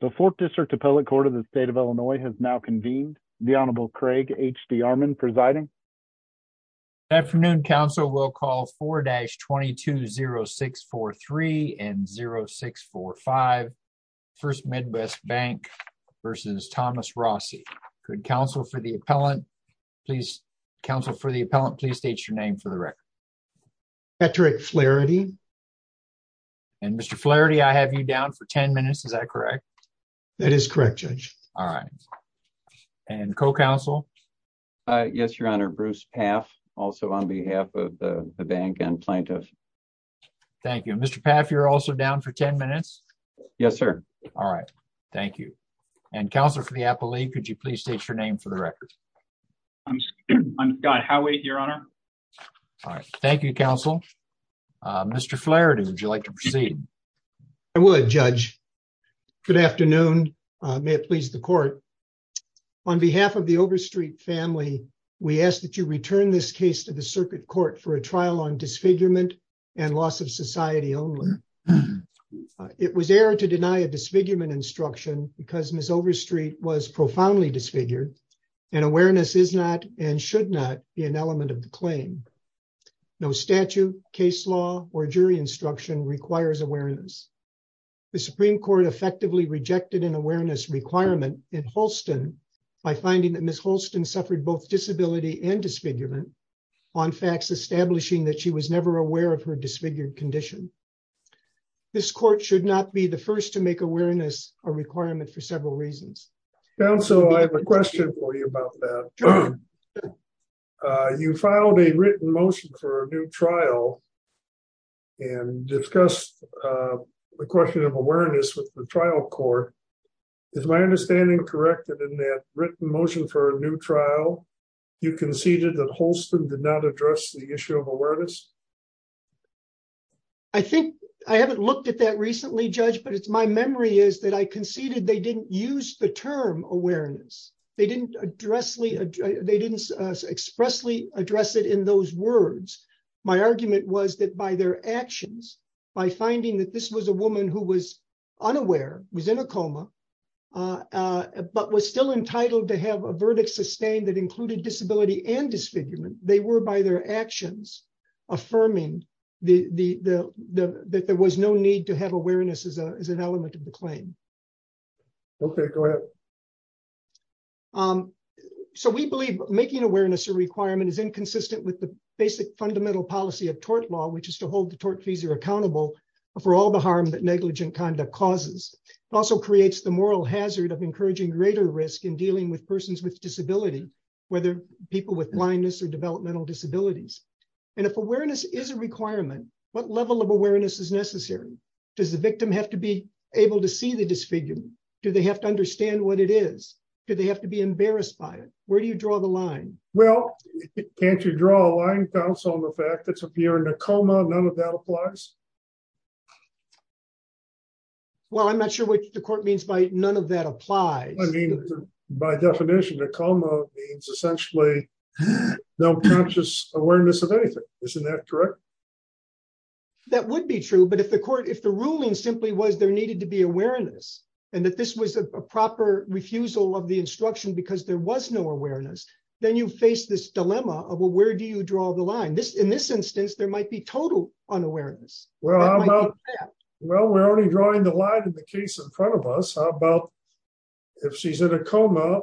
The 4th District Appellate Court of the State of Illinois has now convened. The Honorable Craig H.D. Armon presiding. Afternoon, counsel. We'll call 4-220643 and 0645. 1st Midwest Bank v. Thomas Rossi. Counsel for the appellant, please state your name for the record. Patrick Flaherty Mr. Flaherty, I have you down for 10 minutes, is that correct? That is correct, Judge. And co-counsel? Yes, Your Honor. Bruce Paff, also on behalf of the bank and plaintiff. Thank you. Mr. Paff, you're also down for 10 minutes? Yes, sir. Thank you. And counsel for the appellate, could you please state your name for the record? I'm Scott Howey, Your Honor. Thank you, counsel. Mr. Flaherty, would you like to proceed? I would, Judge. Good afternoon. May it please the court. On behalf of the Overstreet family, we ask that you return this case to the circuit court for a trial on disfigurement and loss of society only. It was error to deny a disfigurement instruction because Ms. Overstreet was profoundly disfigured and awareness is not and should not be an element of the claim. No statute, case law or jury instruction requires awareness. The Supreme Court effectively rejected an awareness requirement in Holston by finding that Ms. Holston suffered both disability and disfigurement on facts establishing that she was never aware of her disfigured condition. This court should not be the first to make awareness a requirement for several reasons. Counsel, I have a question for you about that. You filed a written motion for a new trial and discussed the question of awareness with the trial court. Is my understanding correct that in that written motion for a new trial, you conceded that Holston did not address the issue of awareness? I think I haven't looked at that recently, Judge, but it's my memory is that I conceded they didn't use the term awareness. They didn't expressly address it in those words. My argument was that by their actions, by finding that this was a woman who was unaware, was in a coma, but was still entitled to have a verdict sustained that included disability and disfigurement, they were by their actions affirming that there was no need to have awareness as an element of the claim. Okay, go ahead. So we believe making awareness a requirement is inconsistent with the basic fundamental policy of tort law, which is to hold the tortfeasor accountable for all the harm that negligent conduct causes. It also creates the moral hazard of encouraging greater risk in dealing with persons with disability, whether people with blindness or developmental disabilities. And if awareness is a requirement, what level of awareness is necessary? Does the victim have to be able to see the disfigurement? Do they have to understand what it is? Do they have to be embarrassed by it? Where do you draw the line? Well, can't you draw a line, counsel, on the fact that you're in a coma? None of that applies. Well, I'm not sure what the court means by none of that applies. By definition, a coma means essentially no conscious awareness of anything. Isn't that correct? That would be true. But if the ruling simply was there needed to be awareness and that this was a proper refusal of the instruction because there was no awareness, then you face this dilemma of where do you draw the line. In this instance, there might be total unawareness. Well, we're only drawing the line in the case in front of us. How about if she's in a coma,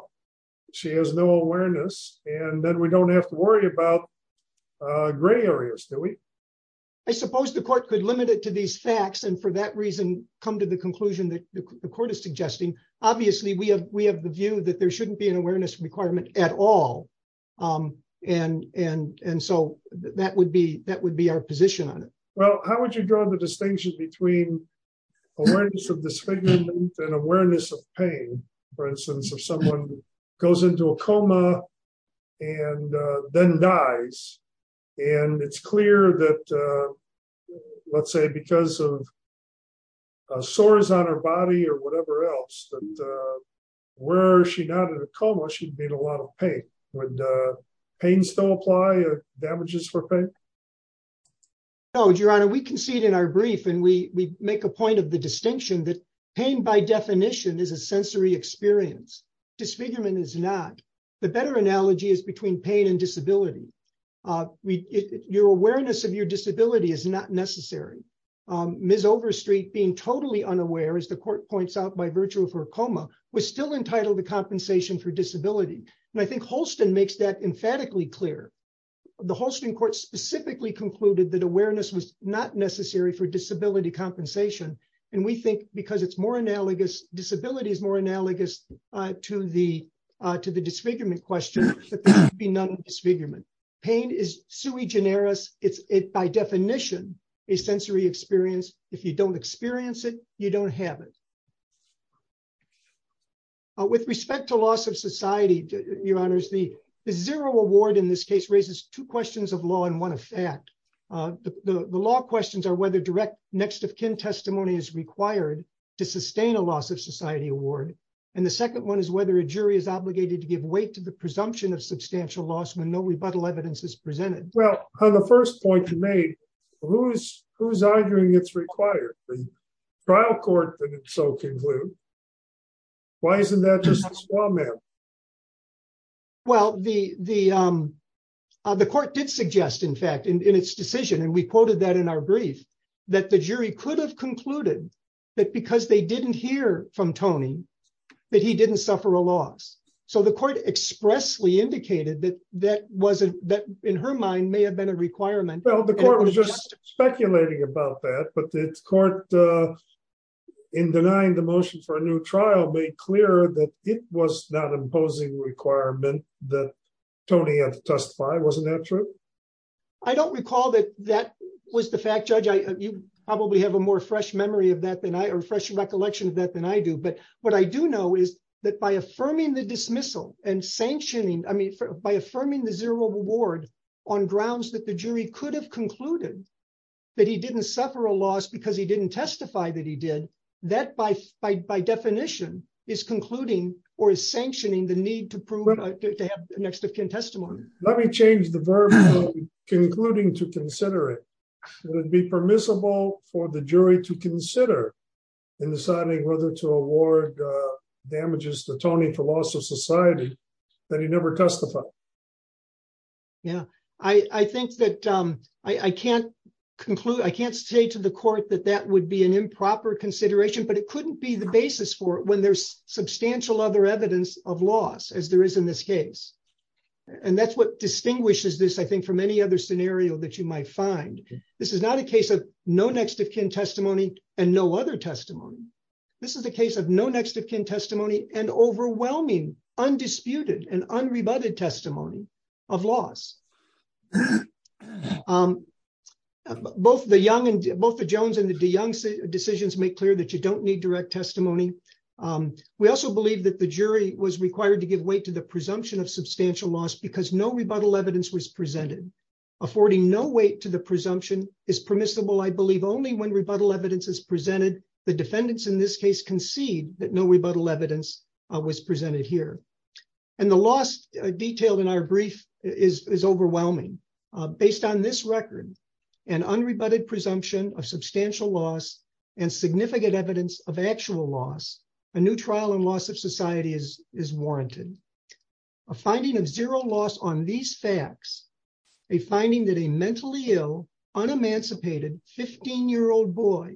she has no awareness, and then we don't have to worry about gray areas, do we? I suppose the court could limit it to these facts and for that reason come to the conclusion that the court is suggesting. Obviously, we have the view that there shouldn't be an awareness requirement at all. And so that would be our position on it. Well, how would you draw the distinction between awareness of disfigurement and awareness of pain? For instance, if someone goes into a coma and then dies, and it's clear that, let's say, because of sores on her body or whatever else, that were she not in a coma, she'd be in a lot of pain. Would pain still apply? Damages for pain? No, Your Honor, we concede in our brief and we make a point of the distinction that pain by definition is a sensory experience. Disfigurement is not. The better analogy is between pain and disability. Your awareness of your disability is not necessary. Ms. Overstreet being totally unaware, as the court points out by virtue of her coma, was still entitled to compensation for disability. And I think Holston makes that emphatically clear. The Holston Court specifically concluded that awareness was not necessary for disability compensation. And we think because it's more analogous, disability is more analogous to the, to the disfigurement question, that there should be none of disfigurement. Pain is sui generis. It's, by definition, a sensory experience. If you don't experience it, you don't have it. With respect to loss of society, Your Honors, the zero award in this case raises two questions of law and one of fact. The law questions are whether direct next of kin testimony is required to sustain a loss of society award. And the second one is whether a jury is obligated to give weight to the presumption of substantial loss when no rebuttal evidence is presented. Well, on the first point you made, who's, who's arguing it's required? The trial court didn't so conclude. Why isn't that just a small amount? Well, the, the, the court did suggest, in fact, in its decision, and we quoted that in our brief, that the jury could have concluded that because they didn't hear from Tony, that he didn't suffer a loss. So the court expressly indicated that that wasn't that, in her mind, may have been a requirement. Well, the court was just speculating about that, but the court in denying the motion for a new trial made clear that it was not imposing requirement that Tony had to testify. Wasn't that true? I don't recall that that was the fact judge I probably have a more fresh memory of that than I refresh recollection of that than I do but what I do know is that by affirming the dismissal and sanctioning, I mean, by affirming the zero reward on grounds that the jury could have concluded that he didn't suffer a loss because he didn't testify that he did that by, by definition is concluding or is sanctioning the need to prove next of kin testimony. Let me change the verb concluding to consider it would be permissible for the jury to consider in deciding whether to award damages to Tony for loss of society that he never testified. Yeah, I think that I can't conclude I can't say to the court that that would be an improper consideration but it couldn't be the basis for when there's substantial other evidence of loss as there is in this case. And that's what distinguishes this I think from any other scenario that you might find. This is not a case of no next of kin testimony, and no other testimony. This is the case of no next of kin testimony and overwhelming undisputed and unrebutted testimony of loss. Both the young and both the Jones and the young say decisions make clear that you don't need direct testimony. We also believe that the jury was required to give weight to the presumption of substantial loss because no rebuttal evidence was presented affording no weight to the presumption is permissible I believe only when rebuttal evidence is presented the defendants in this case concede that no rebuttal evidence was presented here. And the last detailed in our brief is overwhelming. Based on this record and unrebutted presumption of substantial loss and significant evidence of actual loss, a new trial and loss of society is is warranted a finding of zero loss on these facts, a finding that a mentally ill unemancipated 15 year old boy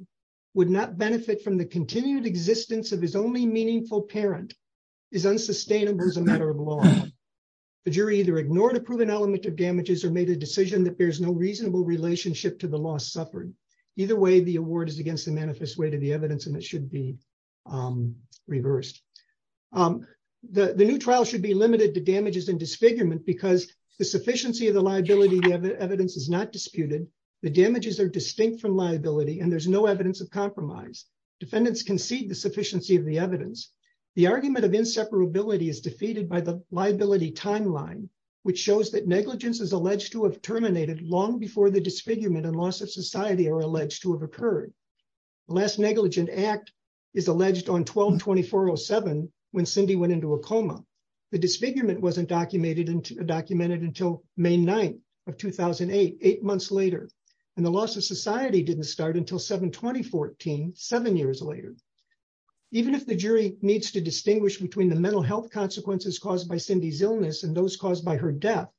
would not benefit from the continued existence of his only meaningful parent is unsustainable as a matter of law. The jury either ignored a proven element of damages or made a decision that there's no reasonable relationship to the loss suffered. Either way, the award is against the manifest way to the evidence and it should be reversed. The new trial should be limited to damages and disfigurement because the sufficiency of the liability evidence is not disputed the damages are distinct from liability and there's no evidence of compromise defendants concede the sufficiency of the evidence, the argument of inseparability is defeated by the liability timeline, which shows that negligence is alleged to have terminated long before the disfigurement and loss of society are alleged to have occurred. The last negligent act is alleged on 12-24-07 when Cindy went into a coma. The disfigurement wasn't documented until May 9 of 2008, eight months later, and the loss of society didn't start until 7-20-14, seven years later. Even if the jury needs to distinguish between the mental health consequences caused by Cindy's illness and those caused by her death,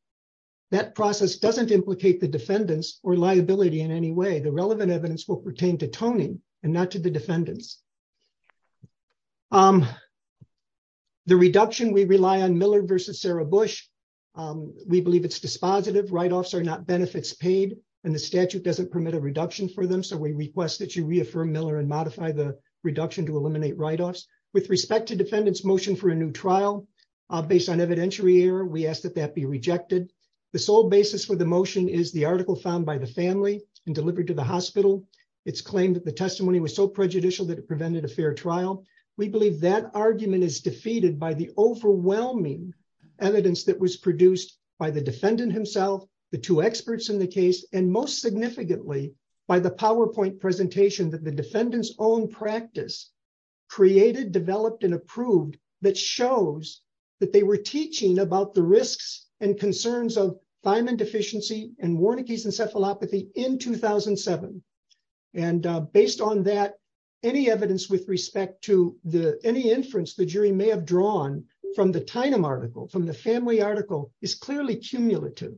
that process doesn't implicate the defendants or liability in any way. The relevant evidence will pertain to Tony and not to the defendants. The reduction we rely on Miller v. Sarah Bush. We believe it's dispositive, write-offs are not benefits paid, and the statute doesn't permit a reduction for them so we request that you reaffirm Miller and modify the reduction to eliminate write-offs. With respect to defendants' motion for a new trial, based on evidentiary error, we ask that that be rejected. The sole basis for the motion is the article found by the family and delivered to the hospital. It's claimed that the testimony was so prejudicial that it prevented a fair trial. We believe that argument is defeated by the overwhelming evidence that was produced by the defendant himself, the two experts in the case, and most significantly, by the PowerPoint presentation that the defendant's own practice created, developed, and approved that shows that they were teaching about the risks and concerns of thiamine deficiency and Warnke's encephalopathy in 2007. Based on that, any evidence with respect to any inference the jury may have drawn from the thiamine article, from the family article, is clearly cumulative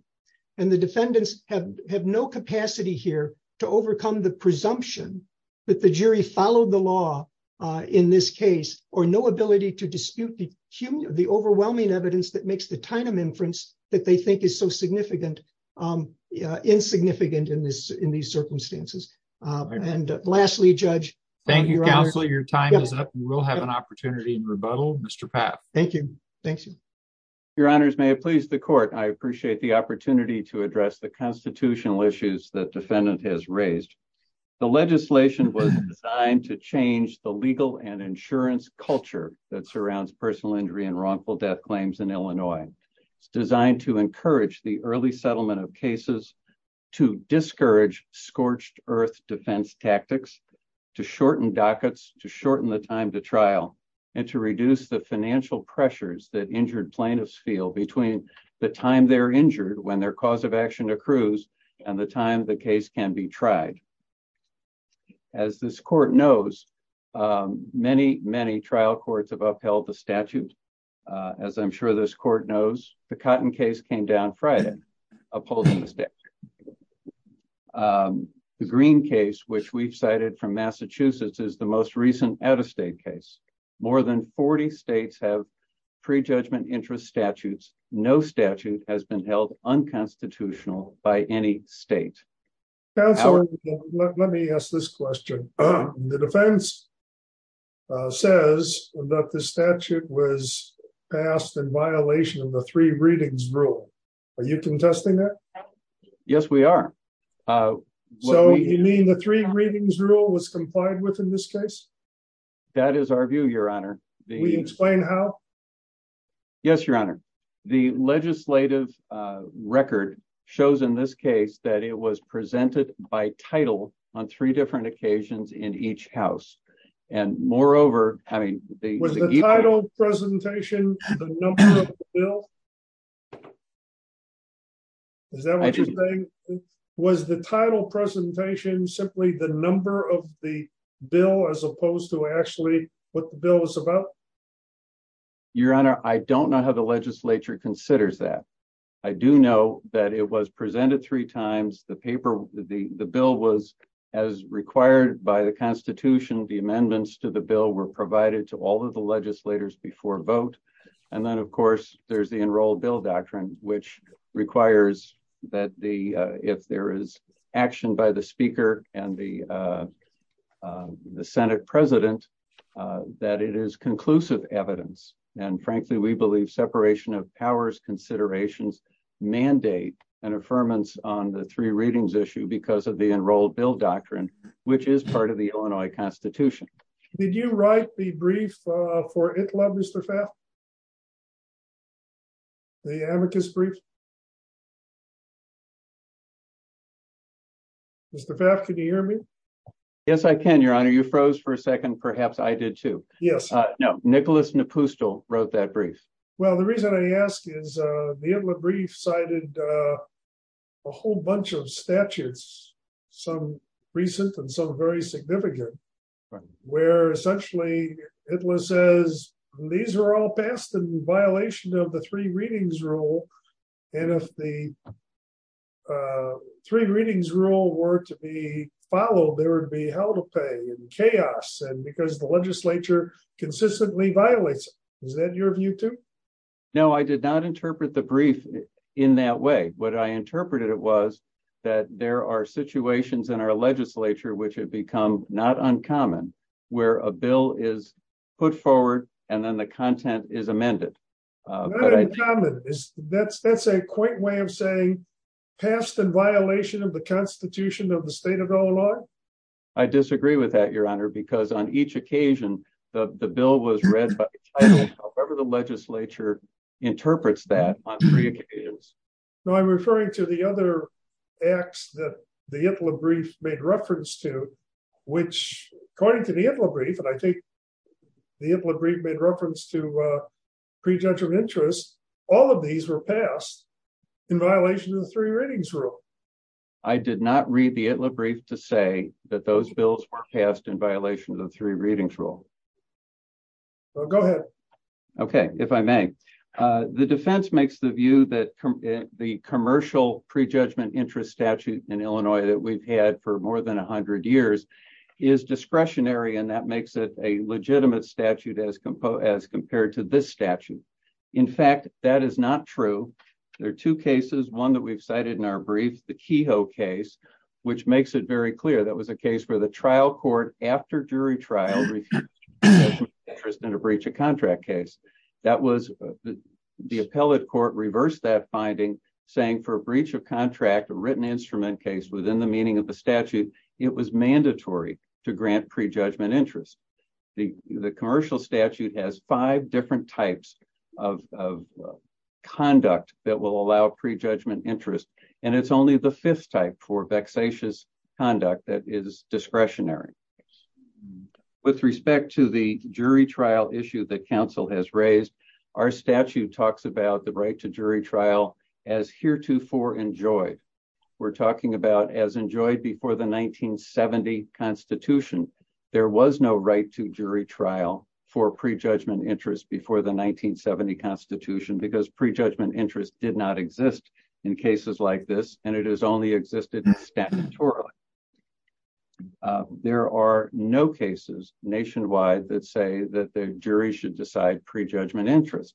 and the defendants have no capacity here to overcome the presumption that the jury followed the law in this case or no ability to dispute the overwhelming evidence that makes the thiamine inference that they think is so insignificant in these circumstances. And lastly, Judge. Thank you, counsel. Your time is up. We'll have an opportunity in rebuttal. Mr. Papp. Thank you. Thank you. Your honors, may it please the court. I appreciate the opportunity to address the constitutional issues that defendant has raised. The legislation was designed to change the legal and insurance culture that surrounds personal injury and wrongful death claims in Illinois. It's designed to encourage the early settlement of cases to discourage scorched earth defense tactics, to shorten dockets, to shorten the time to trial, and to reduce the financial pressures that injured plaintiffs feel between the time they're injured when their cause of action accrues and the time the case can be tried. As this court knows, many, many trial courts have upheld the statute. As I'm sure this court knows, the Cotton case came down Friday, opposing the statute. The Green case, which we've cited from Massachusetts, is the most recent out of state case. More than 40 states have prejudgment interest statutes. No statute has been held unconstitutional by any state. Let me ask this question. The defense says that the statute was passed in violation of the three readings rule. Are you contesting that? Yes, we are. So you mean the three readings rule was complied with in this case? That is our view, your honor. Will you explain how? Yes, your honor. The legislative record shows in this case that it was presented by title on three different occasions in each house. And moreover, I mean, Was the title presentation the number of the bill? Is that what you're saying? Was the title presentation simply the number of the bill as opposed to actually what the bill is about? Your honor, I don't know how the legislature considers that. I do know that it was presented three times. The bill was as required by the Constitution. The amendments to the bill were provided to all of the legislators before vote. And then, of course, there's the enrolled bill doctrine, which requires that the if there is action by the speaker and the Senate president, that it is conclusive evidence. And frankly, we believe separation of powers considerations mandate and affirmance on the three readings issue because of the enrolled bill doctrine, which is part of the Illinois Constitution. Did you write the brief for it? Love is the fact. The amicus brief. Is the fact. Can you hear me? Yes, I can. Your honor, you froze for a second. Perhaps I did, too. Yes. No. Nicholas Napustel wrote that brief. Well, the reason I ask is the brief cited a whole bunch of statutes, some recent and some very significant, where essentially it was says these are all passed in violation of the three readings rule. And if the three readings rule were to be followed, there would be hell to pay and chaos and because the legislature consistently violates. Is that your view, too? No, I did not interpret the brief in that way. What I interpreted it was that there are situations in our legislature which have become not uncommon where a bill is put forward and then the content is amended. That's that's a quick way of saying passed in violation of the Constitution of the state of Illinois. I disagree with that, your honor, because on each occasion, the bill was read by the legislature interprets that on three occasions. No, I'm referring to the other acts that the brief made reference to, which, according to the brief, and I think the brief made reference to prejudgment interest. All of these were passed in violation of the three readings rule. I did not read the brief to say that those bills were passed in violation of the three readings rule. Go ahead. Okay, if I may. The defense makes the view that the commercial prejudgment interest statute in Illinois that we've had for more than 100 years is discretionary and that makes it a legitimate statute as as compared to this statute. In fact, that is not true. There are two cases, one that we've cited in our brief, the Kehoe case, which makes it very clear that was a case where the trial court after jury trial. In a breach of contract case that was the appellate court reverse that finding saying for a breach of contract written instrument case within the meaning of the statute, it was mandatory to grant prejudgment interest. The commercial statute has five different types of conduct that will allow prejudgment interest, and it's only the fifth type for vexatious conduct that is discretionary. With respect to the jury trial issue that Council has raised our statute talks about the right to jury trial as heretofore enjoyed. We're talking about as enjoyed before the 1970 Constitution, there was no right to jury trial for prejudgment interest before the 1970 Constitution because prejudgment interest did not exist in cases like this, and it is only existed. There are no cases nationwide that say that the jury should decide prejudgment interest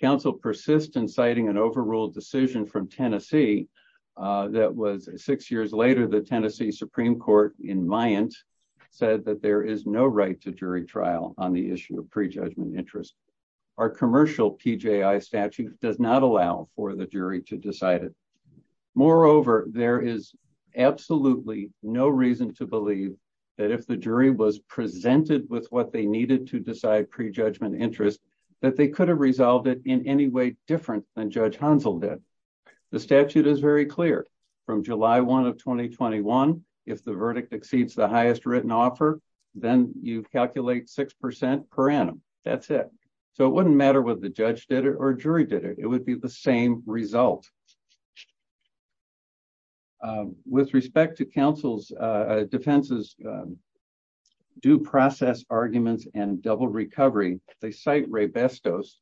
Council persistent citing an overruled decision from Tennessee. That was six years later, the Tennessee Supreme Court in mind, said that there is no right to jury trial on the issue of prejudgment interest. Our commercial PGI statute does not allow for the jury to decide it. Moreover, there is absolutely no reason to believe that if the jury was presented with what they needed to decide prejudgment interest that they could have resolved it in any way different than Judge Hansel did the statute is very clear from July one of 2021. If the verdict exceeds the highest written offer, then you calculate 6% per annum. That's it. So it wouldn't matter what the judge did it or jury did it, it would be the same result. With respect to counsel's defenses. Due process arguments and double recovery, they cite Ray bestos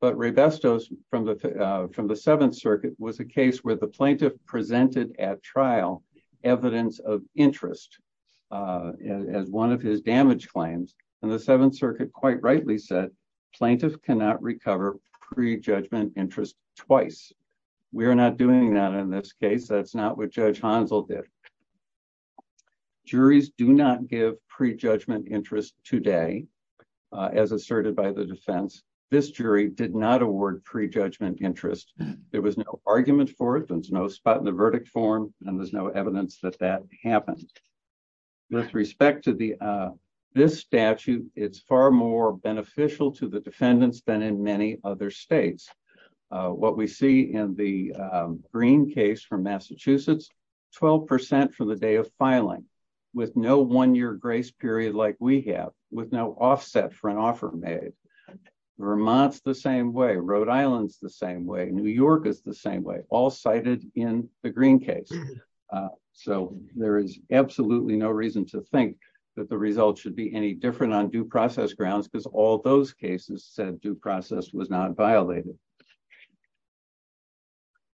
but Ray bestos from the, from the Seventh Circuit was a case where the plaintiff presented at trial evidence of interest. As one of his damage claims, and the Seventh Circuit quite rightly said plaintiff cannot recover prejudgment interest twice. We are not doing that in this case that's not what Judge Hansel did. Juries do not give prejudgment interest today, as asserted by the defense, this jury did not award prejudgment interest. There was no argument for it there's no spot in the verdict form, and there's no evidence that that happened. With respect to the this statute, it's far more beneficial to the defendants than in many other states. What we see in the green case from Massachusetts 12% for the day of filing with no one year grace period like we have with no offset for an offer made. Vermont's the same way Rhode Island's the same way New York is the same way, all cited in the green case. So, there is absolutely no reason to think that the results should be any different on due process grounds because all those cases said due process was not violated.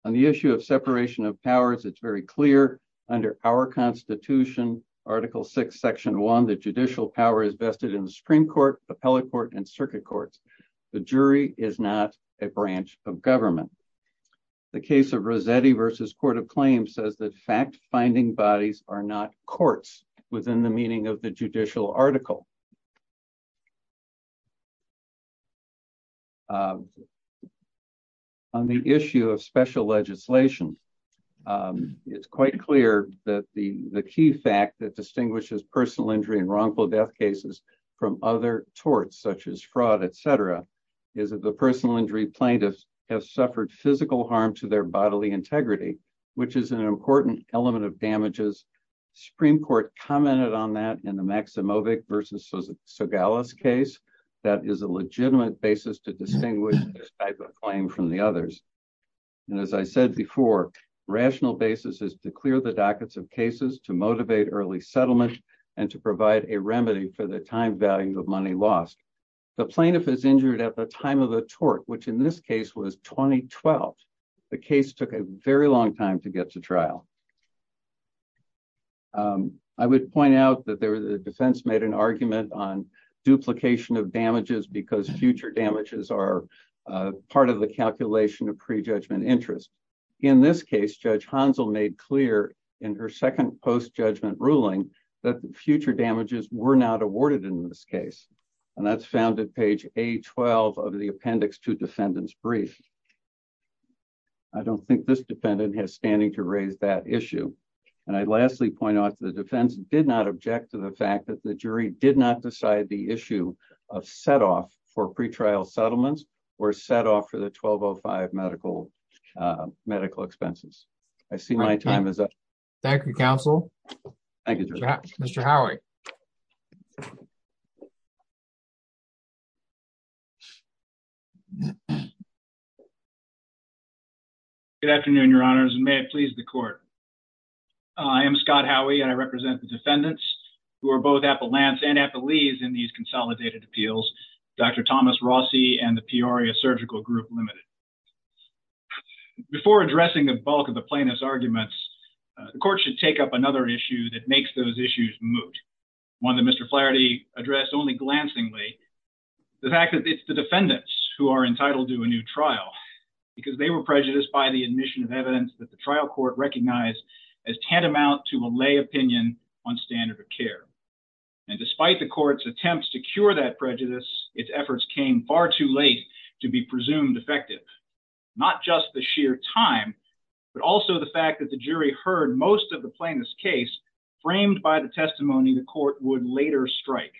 On the issue of separation of powers it's very clear under our Constitution, article six section one the judicial power is vested in the Supreme Court appellate court and circuit courts. The jury is not a branch of government. The case of Rosetti versus Court of Claims says that fact finding bodies are not courts within the meaning of the judicial article. On the issue of special legislation. It's quite clear that the the key fact that distinguishes personal injury and wrongful death cases from other torts such as fraud, etc. Is it the personal injury plaintiffs have suffered physical harm to their bodily integrity, which is an important element of damages. Supreme Court commented on that in the Maximovic versus so Gallus case that is a legitimate basis to distinguish type of claim from the others. And as I said before, rational basis is to clear the dockets of cases to motivate early settlement, and to provide a remedy for the time value of money lost the plaintiff is injured at the time of the tort which in this case was 2012. The case took a very long time to get to trial. I would point out that there was a defense made an argument on duplication of damages because future damages are part of the calculation of prejudgment interest. In this case, Judge Hansel made clear in her second post judgment ruling that future damages were not awarded in this case, and that's found at page, a 12 of the appendix to defendants brief. I don't think this defendant has standing to raise that issue. And I'd lastly point out to the defense did not object to the fact that the jury did not decide the issue of set off for pre trial settlements were set off for the 1205 medical medical expenses. I see my time is up. Thank you, counsel. Thank you, Mr. Howie. Good afternoon, your honors and may it please the court. I am Scott Howie and I represent the defendants who are both at the Lance and at the leaves in these consolidated appeals. Dr. Thomas Rossi and the Peoria surgical group limited. Before addressing the bulk of the plaintiff's arguments, the court should take up another issue that makes those issues moot. One that Mr clarity address only glancingly. The fact that it's the defendants who are entitled to a new trial, because they were prejudiced by the admission of evidence that the trial court recognized as tantamount to a lay opinion on standard of care. And despite the courts attempts to cure that prejudice, its efforts came far too late to be presumed effective, not just the sheer time, but also the fact that the jury heard most of the plaintiff's case framed by the testimony the court would later strike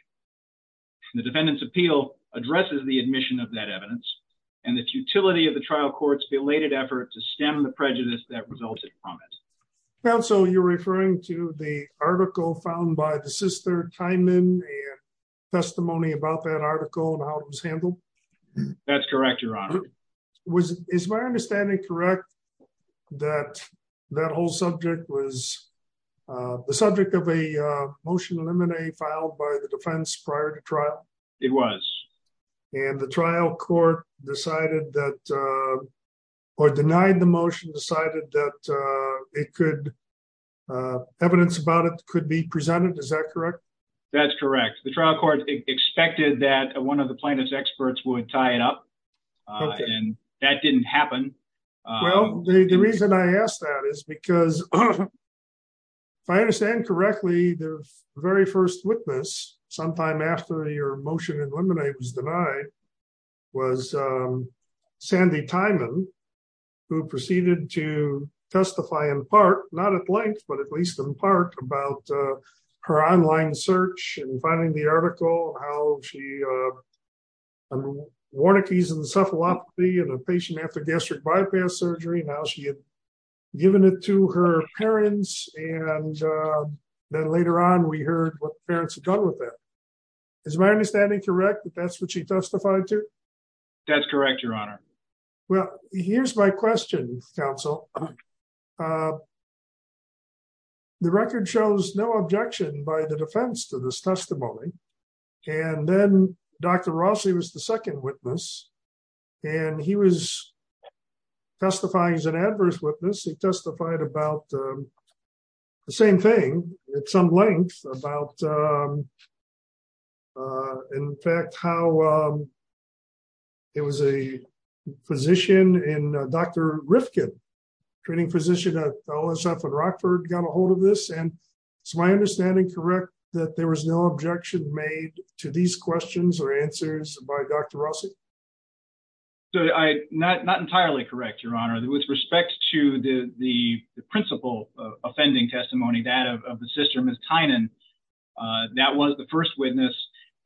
the defendants appeal addresses the admission of that evidence, and the futility of the trial courts belated effort to stem the prejudice that resulted from it. So you're referring to the article found by the sister time in testimony about that article and how it was handled. That's correct, your honor was is my understanding correct that that whole subject was the subject of a motion eliminate filed by the defense prior to trial. It was, and the trial court decided that or denied the motion decided that it could evidence about it could be presented Is that correct, that's correct, the trial court expected that one of the plaintiff's experts would tie it up. And that didn't happen. Well, the reason I asked that is because I understand correctly the very first witness, sometime after your motion and lemonade was denied was Sandy timing, who proceeded to testify in part, not at length but at least in part about her online search and finding the article, how she wanted to use encephalopathy and a patient after gastric bypass surgery now she had given it to her parents, and then later on we heard what parents have done with that. Is my understanding correct that that's what she testified to. That's correct, your honor. Well, here's my question, counsel. The record shows no objection by the defense to this testimony. And then, Dr. Rossi was the second witness. And he was testifying as an adverse witness he testified about the same thing at some length about. In fact, how it was a position in Dr. Rifkin training position at all is often Rockford got ahold of this and my understanding correct that there was no objection made to these questions or answers by Dr. So I not not entirely correct your honor that with respect to the principal offending testimony that of the system is Tynan. That was the first witness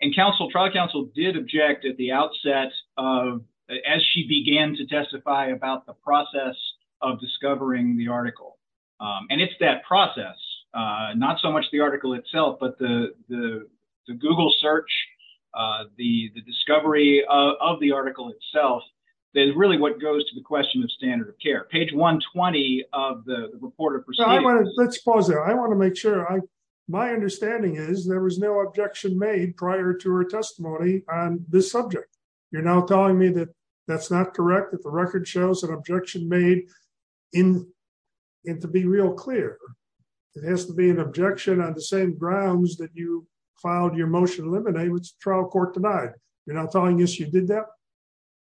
and counsel trial counsel did object at the outset of as she began to testify about the process of discovering the article. And it's that process. Not so much the article itself but the Google search the discovery of the article itself. There's really what goes to the question of standard of care page 120 of the report of. Let's pause there I want to make sure I. My understanding is there was no objection made prior to her testimony on this subject. You're now telling me that that's not correct if the record shows an objection made in it to be real clear. It has to be an objection on the same grounds that you filed your motion eliminate trial court tonight. You're not telling us you did that.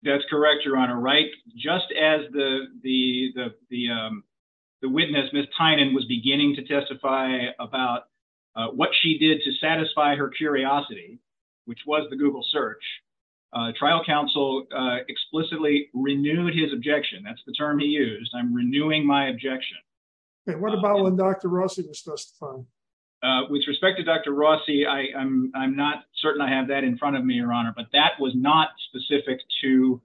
That's correct. You're on a right. Just as the the the witness Miss Tynan was beginning to testify about what she did to satisfy her curiosity which was the Google search trial counsel explicitly renewed his objection. That's the term he used. I'm renewing my objection. What about when Dr. Rossi was first with respect to Dr. Rossi. I am I'm not certain I have that in front of me your honor but that was not specific to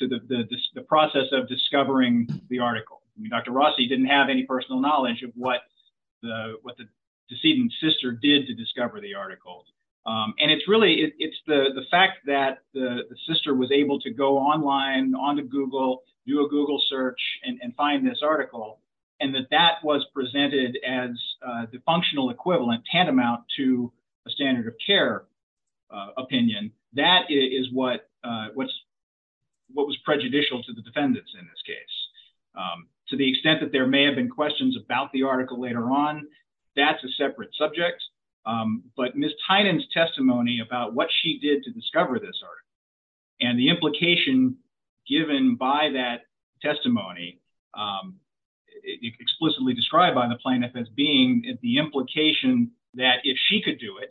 the process of discovering the article. Dr. Rossi didn't have any personal knowledge of what the what the decedent sister did to discover the article. And it's really it's the fact that the sister was able to go online onto Google do a Google search and find this article and that that was presented as the functional equivalent tantamount to a standard of care opinion. That is what what's what was prejudicial to the defendants in this case. To the extent that there may have been questions about the article later on. That's a separate subject. But Miss Tynan's testimony about what she did to discover this and the implication given by that testimony explicitly described by the plaintiff as being the implication that if she could do it.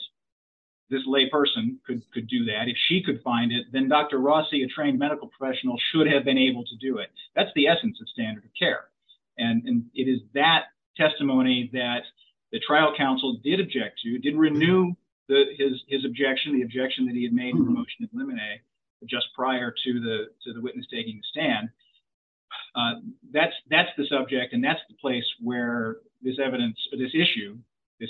This lay person could could do that if she could find it then Dr. Rossi a trained medical professional should have been able to do it. That's the essence of standard of care. And it is that testimony that the trial counsel did object to did renew his objection the objection that he had made in the motion of limine just prior to the to the witness taking the stand. That's, that's the subject and that's the place where this evidence for this issue is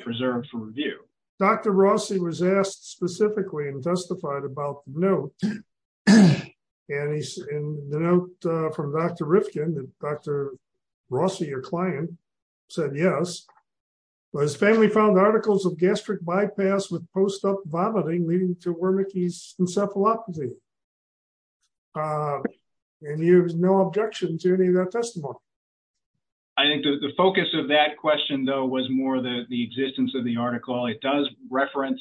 preserved for review. Dr. Rossi was asked specifically and testified about no. And he's in the note from Dr. Rifkin that Dr. Rossi your client said yes was family found articles of gastric bypass with post-op vomiting leading to Wernicke's encephalopathy. And he has no objection to any of that testimony. I think the focus of that question though was more than the existence of the article it does reference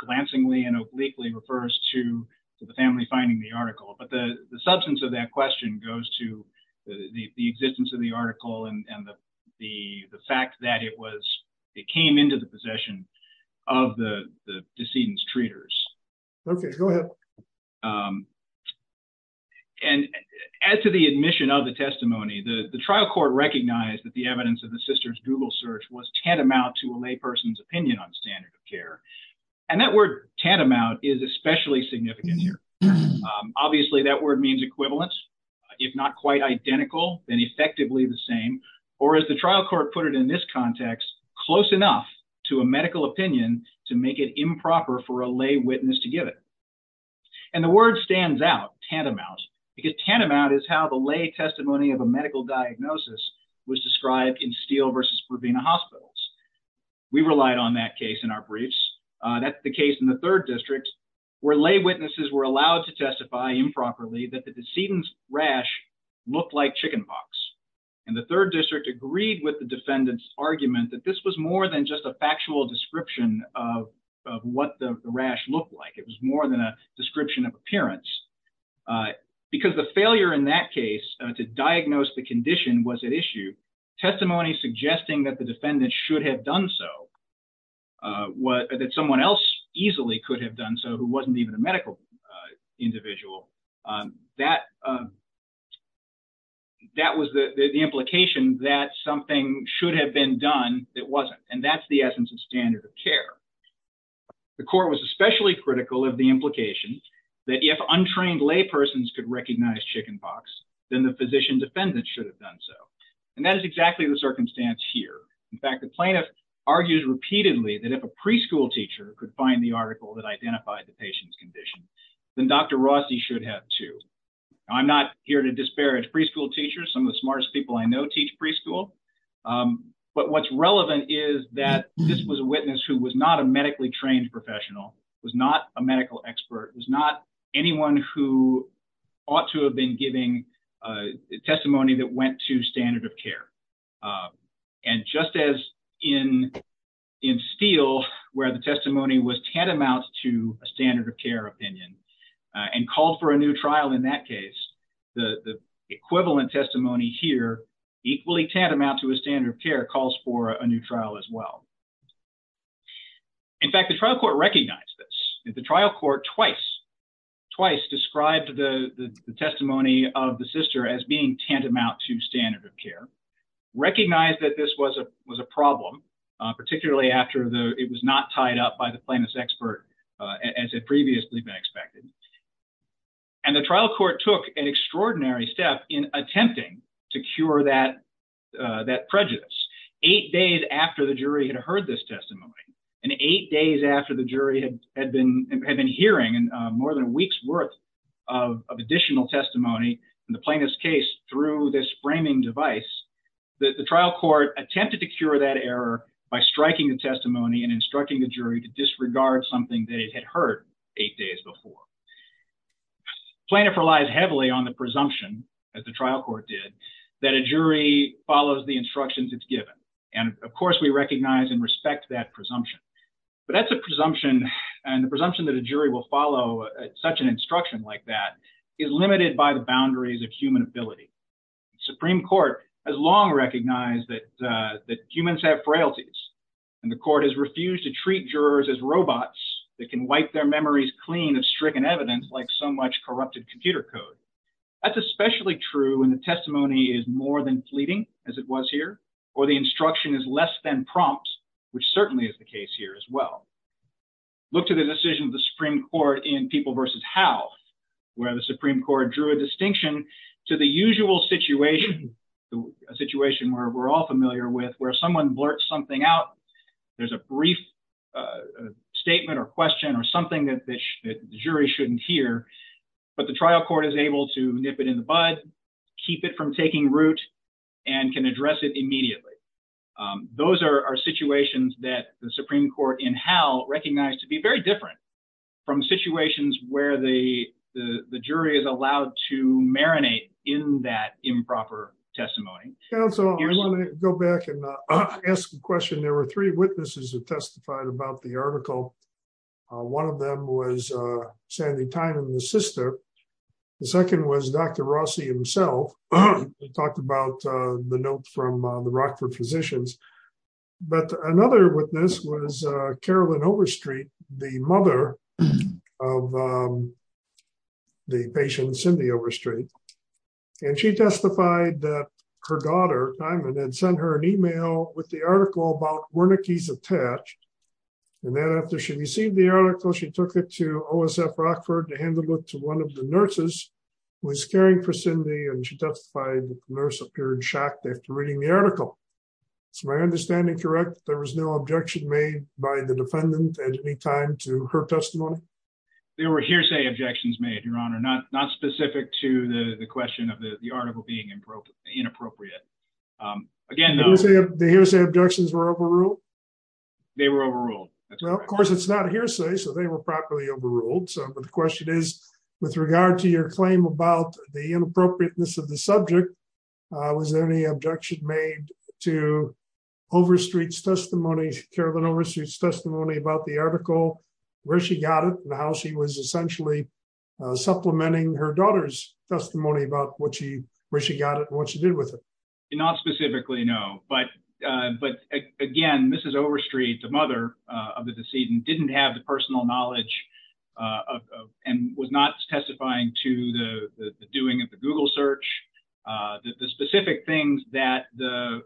glancingly and obliquely refers to the family finding the article but the substance of that question goes to the existence of the article and the, the, the fact that it was, it came into the possession of the decedents treaters. Okay, go ahead. And as to the admission of the testimony the trial court recognized that the evidence of the sisters Google search was tantamount to a lay person's opinion on standard of care. And that word tantamount is especially significant here. Obviously that word means equivalence, if not quite identical and effectively the same, or is the trial court put it in this context, close enough to a medical opinion to make it improper for a lay witness to give it. And the word stands out tantamount because tantamount is how the lay testimony of a medical diagnosis was described in steel versus for being a hospitals. We relied on that case in our briefs. That's the case in the third district, where lay witnesses were allowed to testify improperly that the decedents rash look like chickenpox. And the third district agreed with the defendants argument that this was more than just a factual description of what the rash look like it was more than a description of appearance. Because the failure in that case to diagnose the condition was an issue testimony suggesting that the defendant should have done so what that someone else easily could have done so who wasn't even a medical individual that that was the implication that something should have been done. It wasn't. And that's the essence of standard of care. The court was especially critical of the implication that if untrained lay persons could recognize chickenpox, then the physician defendant should have done so. And that is exactly the circumstance here. In fact, the plaintiff argues repeatedly that if a preschool teacher could find the article that identified the patient's condition, then Dr. Rossi should have to. I'm not here to disparage preschool teachers some of the smartest people I know teach preschool. But what's relevant is that this was a witness who was not a medically trained professional was not a medical expert was not anyone who ought to have been giving testimony that went to standard of care. And just as in in steel, where the testimony was tantamount to a standard of care opinion and called for a new trial in that case, the equivalent testimony here equally tantamount to a standard of care calls for a new trial as well. In fact, the trial court recognized this is the trial court twice twice described the testimony of the sister as being tantamount to standard of care, recognize that this was a was a problem, particularly after the it was not tied up by the plaintiff's expert, as it previously been expected. And the trial court took an extraordinary step in attempting to cure that that prejudice, eight days after the jury had heard this testimony, and eight days after the jury had been had been hearing and more than a week's worth of additional testimony, and the plaintiff's case through this framing device. The trial court attempted to cure that error by striking the testimony and instructing the jury to disregard something they had heard eight days before plaintiff relies heavily on the presumption as the trial court did that a jury follows the instructions it's given. And of course we recognize and respect that presumption. But that's a presumption, and the presumption that a jury will follow such an instruction like that is limited by the boundaries of human ability. Supreme Court has long recognized that that humans have frailties, and the court has refused to treat jurors as robots that can wipe their memories clean of stricken evidence like so much corrupted computer code. That's especially true when the testimony is more than fleeting, as it was here, or the instruction is less than prompts, which certainly is the case here as well. Look to the decision of the Supreme Court in people versus how, where the Supreme Court drew a distinction to the usual situation, a situation where we're all familiar with where someone blurt something out. There's a brief statement or question or something that the jury shouldn't hear, but the trial court is able to nip it in the bud, keep it from taking root, and can address it immediately. Those are situations that the Supreme Court in how recognized to be very different from situations where the jury is allowed to marinate in that improper testimony. I want to go back and ask a question. There were three witnesses who testified about the article. One of them was Sandy Tynan, the sister. The second was Dr. Rossi himself. He talked about the note from the Rockford physicians. But another witness was Carolyn Overstreet, the mother of the patient Cindy Overstreet. And she testified that her daughter, Diamond, had sent her an email with the article about Wernicke's attached. And then after she received the article, she took it to OSF Rockford to hand it to one of the nurses who was caring for Cindy, and she testified that the nurse appeared shocked after reading the article. Is my understanding correct that there was no objection made by the defendant at any time to her testimony? There were hearsay objections made, Your Honor, not specific to the question of the article being inappropriate. Again, the hearsay objections were overruled? They were overruled. Well, of course, it's not hearsay, so they were properly overruled. But the question is, with regard to your claim about the inappropriateness of the subject, was there any objection made to Overstreet's testimony, Carolyn Overstreet's testimony about the article, where she got it, and how she was essentially supplementing her daughter's testimony about where she got it and what she did with it? Not specifically, no. But, again, Mrs. Overstreet, the mother of the decedent, didn't have the personal knowledge and was not testifying to the doing of the Google search, the specific things that the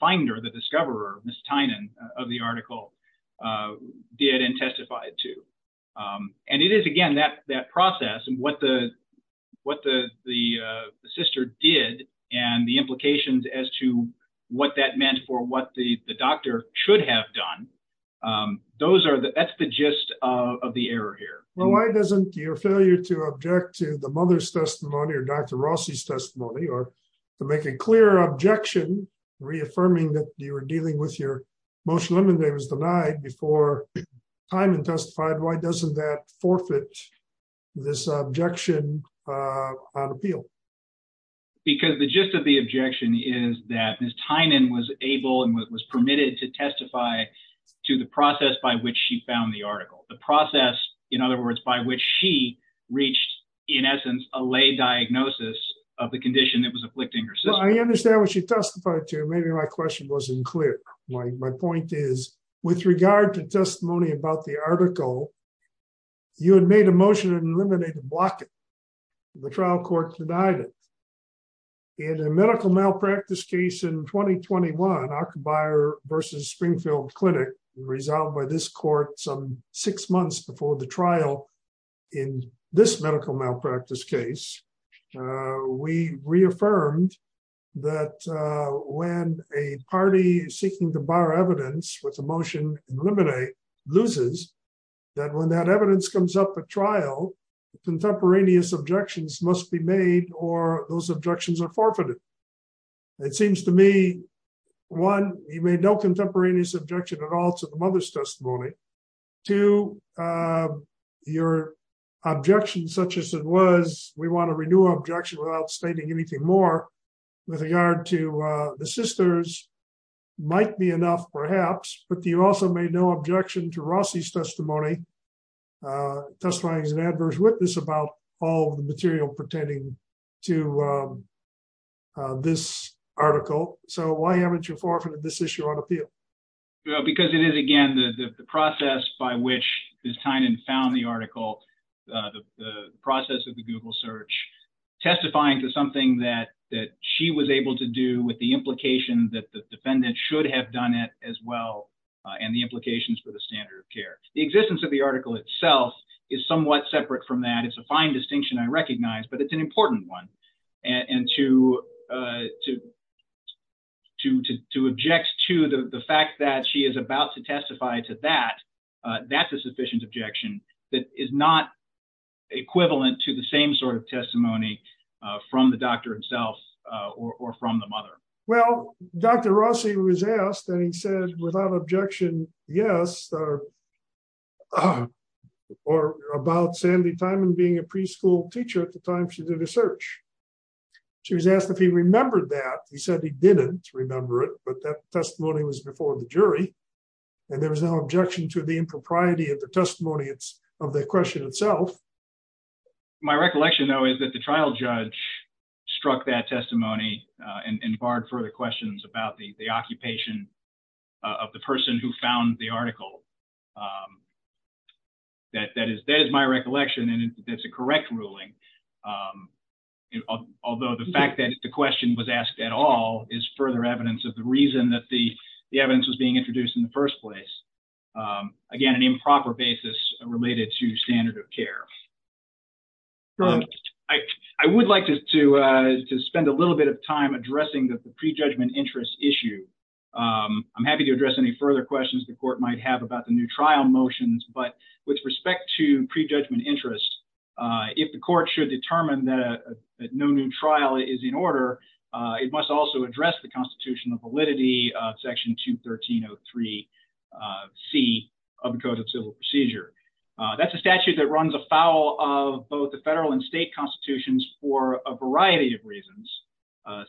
finder, the discoverer, Ms. Tynan, of the article did and testified to. And it is, again, that process and what the sister did and the implications as to what that meant for what the doctor should have done, that's the gist of the error here. Well, why doesn't your failure to object to the mother's testimony or Dr. Rossi's testimony or to make a clear objection, reaffirming that you were dealing with your motion on Monday was denied before Tynan testified, why doesn't that forfeit this objection on appeal? Because the gist of the objection is that Ms. Tynan was able and was permitted to testify to the process by which she found the article, the process, in other words, by which she reached, in essence, a lay diagnosis of the condition that was afflicting her sister. Well, I understand what she testified to. Maybe my question wasn't clear. My point is, with regard to testimony about the article, you had made a motion to eliminate and block it. The trial court denied it. In a medical malpractice case in 2021, Ockebyer v. Springfield Clinic, resolved by this court some six months before the trial in this medical malpractice case, we reaffirmed that when a party seeking to bar evidence with a motion to eliminate loses, that when that evidence comes up at trial, contemporaneous objections must be made or those objections are forfeited. It seems to me, one, you made no contemporaneous objection at all to the mother's testimony. Two, your objection, such as it was, we want to renew our objection without stating anything more, with regard to the sisters, might be enough, perhaps, but you also made no objection to Rossi's testimony, testifying as an adverse witness about all the material pertaining to this article. So why haven't you forfeited this issue on appeal? Because it is, again, the process by which Ms. Tynan found the article, the process of the Google search, testifying to something that she was able to do with the implication that the defendant should have done it as well, and the implications for the standard of care. The existence of the article itself is somewhat separate from that. It's a fine distinction, I recognize, but it's an important one. And to object to the fact that she is about to testify to that, that's a sufficient objection that is not equivalent to the same sort of testimony from the doctor himself or from the mother. Well, Dr. Rossi was asked, and he said, without objection, yes, or about Sandy Tynan being a preschool teacher at the time she did the search. She was asked if he remembered that. He said he didn't remember it, but that testimony was before the jury. And there was no objection to the impropriety of the testimony of the question itself. My recollection, though, is that the trial judge struck that testimony and barred further questions about the occupation of the person who found the article. That is my recollection, and that's a correct ruling, although the fact that the question was asked at all is further evidence of the reason that the evidence was being introduced in the first place. Again, an improper basis related to standard of care. I would like to spend a little bit of time addressing the pre-judgment interest issue. I'm happy to address any further questions the court might have about the new trial motions, but with respect to pre-judgment interest, if the court should determine that no new trial is in order, it must also address the constitutional validity of Section 213.03c of the Code of Civil Procedure. That's a statute that runs afoul of both the federal and state constitutions for a variety of reasons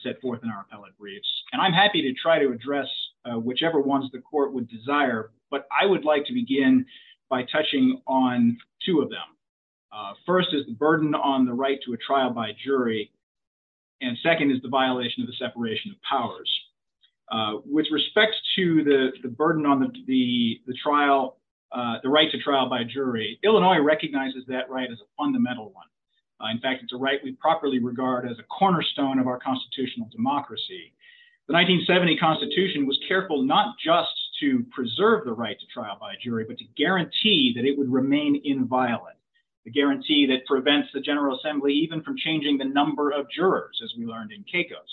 set forth in our appellate briefs, and I'm happy to try to address whichever ones the court would desire, but I would like to begin by touching on two of them. First is the burden on the right to a trial by jury, and second is the violation of the separation of powers. With respect to the burden on the right to trial by jury, Illinois recognizes that right as a fundamental one. The guarantee that prevents the General Assembly even from changing the number of jurors, as we learned in CACOS.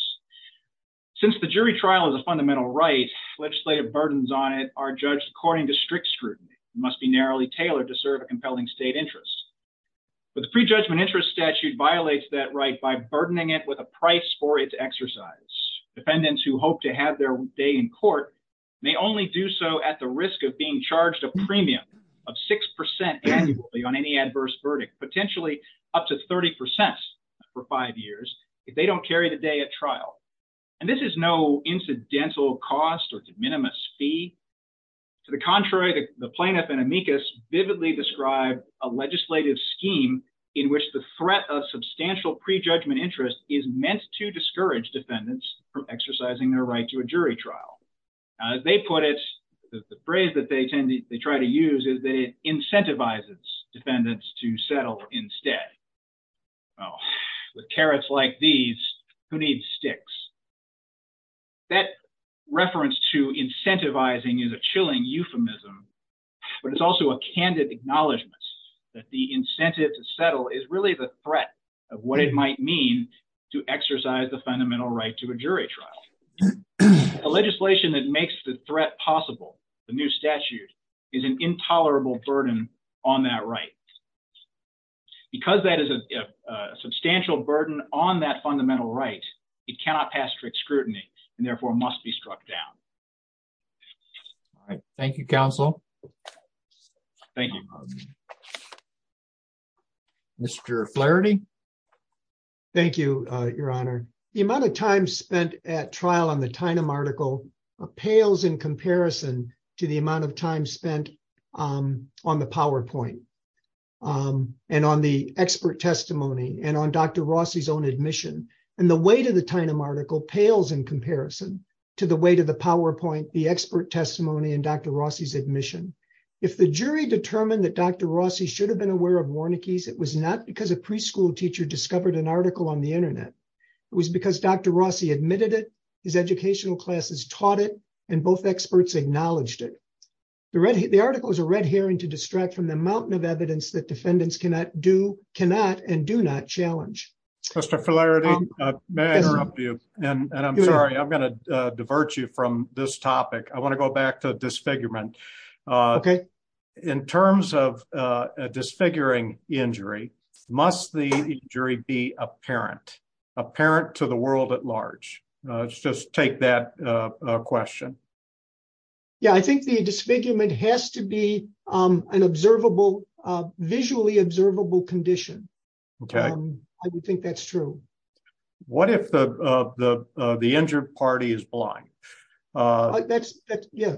Since the jury trial is a fundamental right, legislative burdens on it are judged according to strict scrutiny and must be narrowly tailored to serve a compelling state interest. But the pre-judgment interest statute violates that right by burdening it with a price for its exercise. Defendants who hope to have their day in court may only do so at the risk of being charged a premium of 6% annually on any adverse verdict, potentially up to 30% for five years, if they don't carry the day at trial. And this is no incidental cost or de minimis fee. To the contrary, the plaintiff in amicus vividly described a legislative scheme in which the threat of substantial pre-judgment interest is meant to discourage defendants from exercising their right to a jury trial. As they put it, the phrase that they tend to try to use is that it incentivizes defendants to settle instead. Well, with carrots like these, who needs sticks? That reference to incentivizing is a chilling euphemism, but it's also a candid acknowledgment that the incentive to settle is really the threat of what it might mean to exercise the fundamental right to a jury trial. A legislation that makes the threat possible, the new statute, is an intolerable burden on that right. Because that is a substantial burden on that fundamental right, it cannot pass strict scrutiny and therefore must be struck down. Thank you, counsel. Thank you. Mr. Flaherty. Thank you, Your Honor. The amount of time spent at trial on the Tynum article pales in comparison to the amount of time spent on the PowerPoint and on the expert testimony and on Dr. Rossi's own admission. And the weight of the Tynum article pales in comparison to the weight of the PowerPoint, the expert testimony, and Dr. Rossi's admission. If the jury determined that Dr. Rossi should have been aware of Warnake's, it was not because a preschool teacher discovered an article on the internet. It was because Dr. Rossi admitted it, his educational classes taught it, and both experts acknowledged it. The article is a red herring to distract from the mountain of evidence that defendants cannot and do not challenge. Mr. Flaherty, may I interrupt you? And I'm sorry, I'm going to divert you from this topic. I want to go back to disfigurement. Okay. In terms of a disfiguring injury, must the injury be apparent, apparent to the world at large? Just take that question. Yeah, I think the disfigurement has to be an observable, visually observable condition. Okay. I do think that's true. What if the injured party is blind? That's, yeah.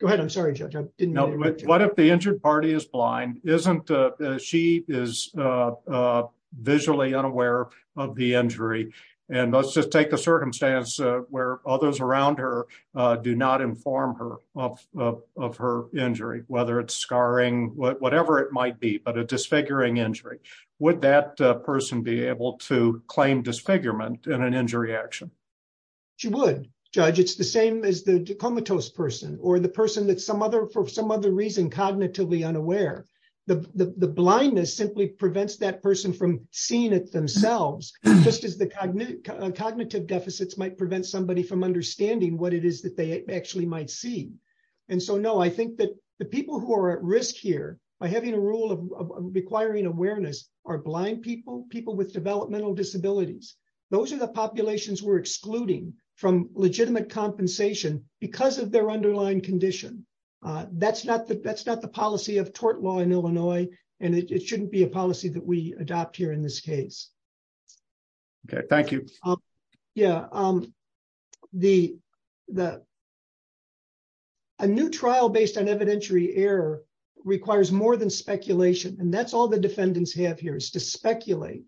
Go ahead, I'm sorry, Judge, I didn't mean to interrupt you. What if the injured party is blind? She is visually unaware of the injury. And let's just take the circumstance where others around her do not inform her of her injury, whether it's scarring, whatever it might be, but a disfiguring injury. Would that person be able to claim disfigurement in an injury action? She would, Judge. It's the same as the comatose person or the person that's, for some other reason, cognitively unaware. The blindness simply prevents that person from seeing it themselves, just as the cognitive deficits might prevent somebody from understanding what it is that they actually might see. And so, no, I think that the people who are at risk here, by having a rule of requiring awareness, are blind people, people with developmental disabilities. Those are the populations we're excluding from legitimate compensation because of their underlying condition. That's not the policy of tort law in Illinois, and it shouldn't be a policy that we adopt here in this case. Okay, thank you. Yeah, a new trial based on evidentiary error requires more than speculation. And that's all the defendants have here, is to speculate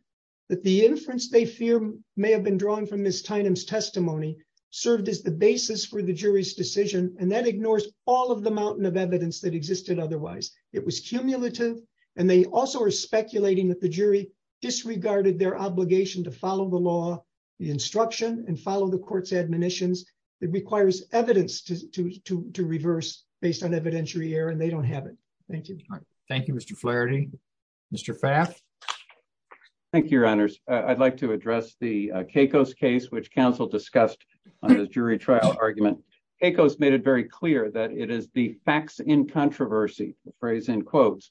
that the inference they fear may have been drawn from Ms. Tynum's testimony served as the basis for the jury's decision, and that ignores all of the mountain of evidence that existed otherwise. It was cumulative, and they also are speculating that the jury disregarded their obligation to follow the law, the instruction, and follow the court's admonitions. It requires evidence to reverse based on evidentiary error, and they don't have it. Thank you. Thank you, Mr. Flaherty. Mr. Pfaff? Thank you, Your Honors. I'd like to address the Kacos case, which counsel discussed on the jury trial argument. Kacos made it very clear that it is the facts in controversy, the phrase in quotes,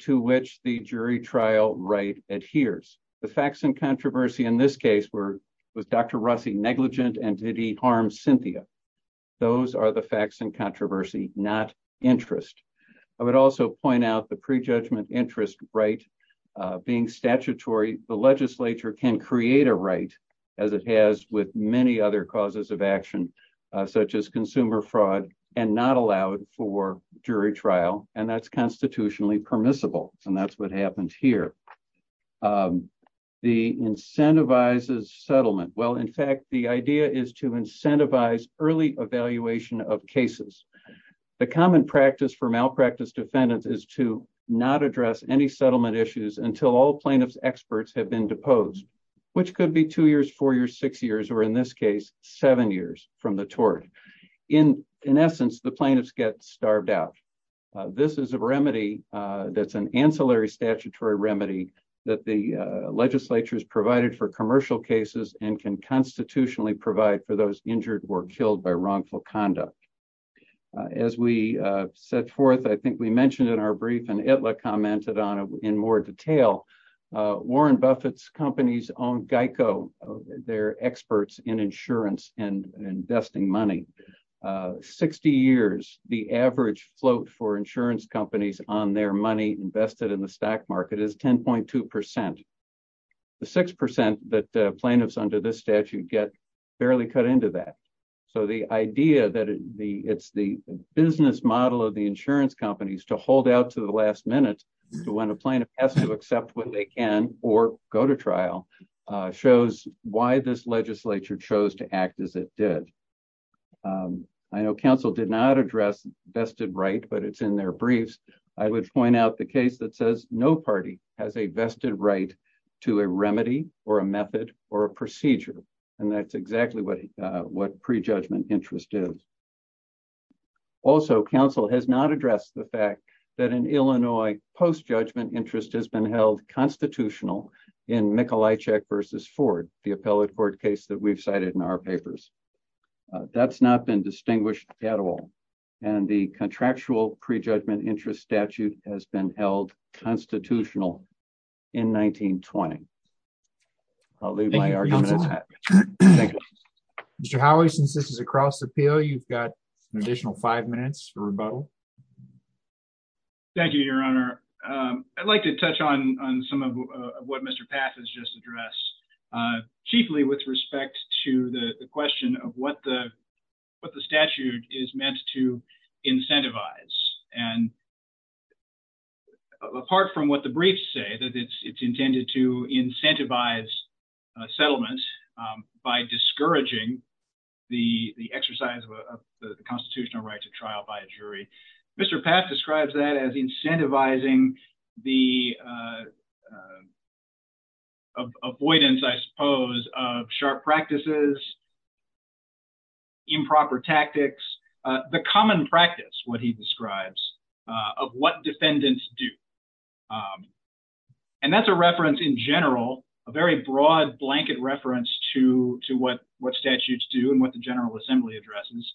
to which the jury trial right adheres. The facts in controversy in this case were, was Dr. Rossi negligent and did he harm Cynthia? Those are the facts in controversy, not interest. I would also point out the prejudgment interest right being statutory. The legislature can create a right, as it has with many other causes of action, such as consumer fraud, and not allow it for jury trial, and that's constitutionally permissible, and that's what happens here. The incentivizes settlement. Well, in fact, the idea is to incentivize early evaluation of cases. The common practice for malpractice defendants is to not address any settlement issues until all plaintiffs' experts have been deposed, which could be two years, four years, six years, or in this case, seven years from the tort. In essence, the plaintiffs get starved out. This is a remedy that's an ancillary statutory remedy that the legislature has provided for commercial cases and can constitutionally provide for those injured or killed by wrongful conduct. As we set forth, I think we mentioned in our brief, and Ittler commented on it in more detail, Warren Buffett's companies own GEICO, they're experts in insurance and investing money. 60 years, the average float for insurance companies on their money invested in the stock market is 10.2%. The 6% that plaintiffs under this statute get barely cut into that. So the idea that it's the business model of the insurance companies to hold out to the last minute, when a plaintiff has to accept what they can or go to trial, shows why this legislature chose to act as it did. I know counsel did not address vested right, but it's in their briefs. I would point out the case that says no party has a vested right to a remedy or a method or a procedure. And that's exactly what pre-judgment interest is. Also, counsel has not addressed the fact that an Illinois post-judgment interest has been held constitutional in Mikolajczyk versus Ford, the appellate court case that we've cited in our papers. That's not been distinguished at all. And the contractual pre-judgment interest statute has been held constitutional in 1920. I'll leave my argument at that. Mr. Howie, since this is a cross-appeal, you've got an additional five minutes for rebuttal. Thank you, Your Honor. I'd like to touch on some of what Mr. Pass has just addressed. Chiefly with respect to the question of what the statute is meant to incentivize. And apart from what the briefs say, that it's intended to incentivize settlement by discouraging the exercise of the constitutional right to trial by a jury, Mr. Pass describes that as incentivizing the avoidance, I suppose, of sharp practices, improper tactics, the common practice, what he describes, of what defendants do. And that's a reference in general, a very broad blanket reference to what statutes do and what the General Assembly addresses.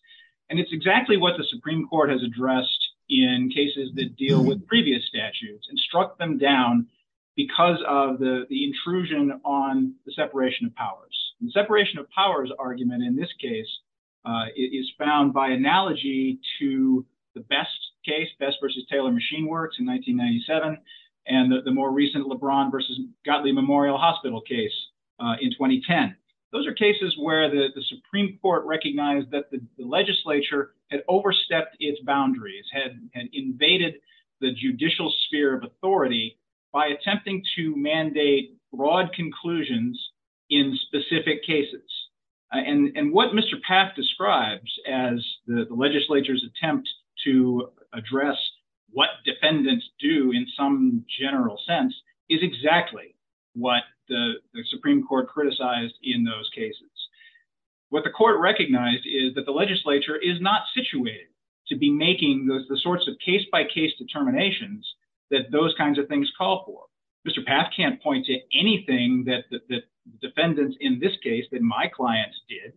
And it's exactly what the Supreme Court has addressed in cases that deal with previous statutes and struck them down because of the intrusion on the separation of powers. The separation of powers argument in this case is found by analogy to the Best case, Best v. Taylor Machine Works in 1997, and the more recent LeBron v. Godley Memorial Hospital case in 2010. Those are cases where the Supreme Court recognized that the legislature had overstepped its boundaries, had invaded the judicial sphere of authority by attempting to mandate broad conclusions in specific cases. And what Mr. Pass describes as the legislature's attempt to address what defendants do in some general sense is exactly what the Supreme Court criticized in those cases. What the court recognized is that the legislature is not situated to be making the sorts of case-by-case determinations that those kinds of things call for. Mr. Pass can't point to anything that defendants in this case, that my clients did,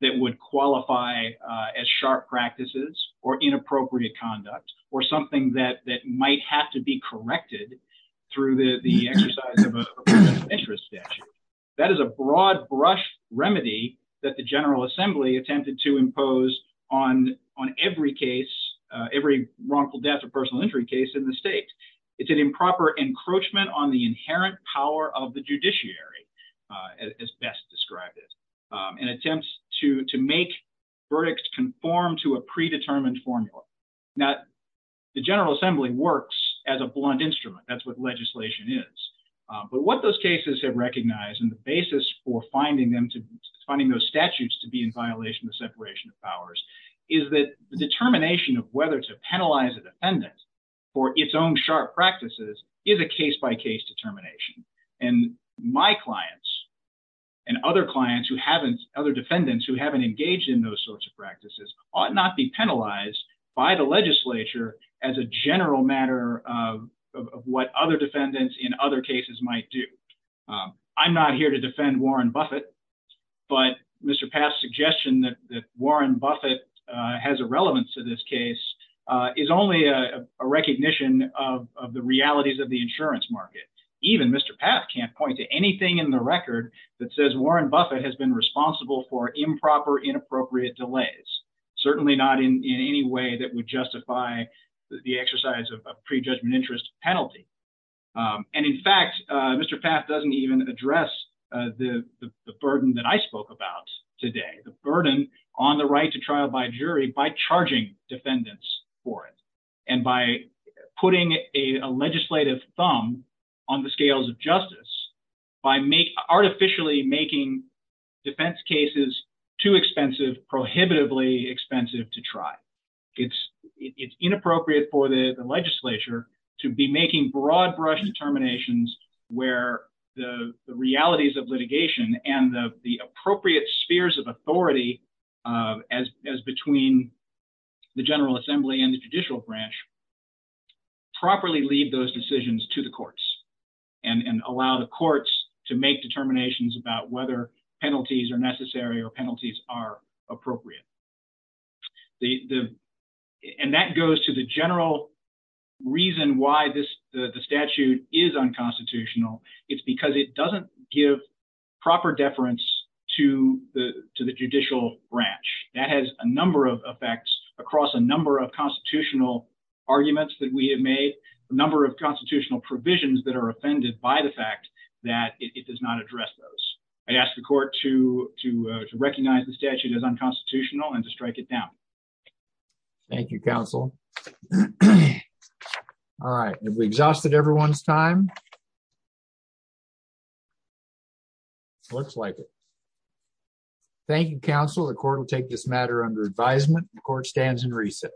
that would qualify as sharp practices or inappropriate conduct or something that might have to be corrected through the exercise of a personal interest statute. That is a broad brush remedy that the General Assembly attempted to impose on every case, every wrongful death or personal injury case in the state. It's an improper encroachment on the inherent power of the judiciary, as Best described it, and attempts to make verdicts conform to a predetermined formula. Now, the General Assembly works as a blunt instrument. That's what legislation is. But what those cases have recognized and the basis for finding those statutes to be in violation of separation of powers is that the determination of whether to penalize a defendant for its own sharp practices is a case-by-case determination. And my clients and other defendants who haven't engaged in those sorts of practices ought not be penalized by the legislature as a general matter of what other defendants in other cases might do. I'm not here to defend Warren Buffett, but Mr. Pass' suggestion that Warren Buffett has a relevance to this case is only a recognition of the realities of the insurance market. Even Mr. Pass can't point to anything in the record that says Warren Buffett has been responsible for improper, inappropriate delays, certainly not in any way that would justify the exercise of a prejudgment interest penalty. And in fact, Mr. Pass doesn't even address the burden that I spoke about today, the burden on the right to trial by jury by charging defendants for it and by putting a legislative thumb on the scales of justice by artificially making defense cases too expensive, prohibitively expensive to try. It's inappropriate for the legislature to be making broad brush determinations where the realities of litigation and the appropriate spheres of authority as between the General Assembly and the judicial branch properly lead those decisions to the courts and allow the courts to make determinations about whether penalties are necessary or penalties are appropriate. And that goes to the general reason why the statute is unconstitutional. It's because it doesn't give proper deference to the judicial branch. That has a number of effects across a number of constitutional arguments that we have made, a number of constitutional provisions that are offended by the fact that it does not address those. I ask the court to recognize the statute as unconstitutional and to strike it down. Thank you, counsel. All right, we exhausted everyone's time. Looks like it. Thank you, counsel. The court will take this matter under advisement. The court stands in recess.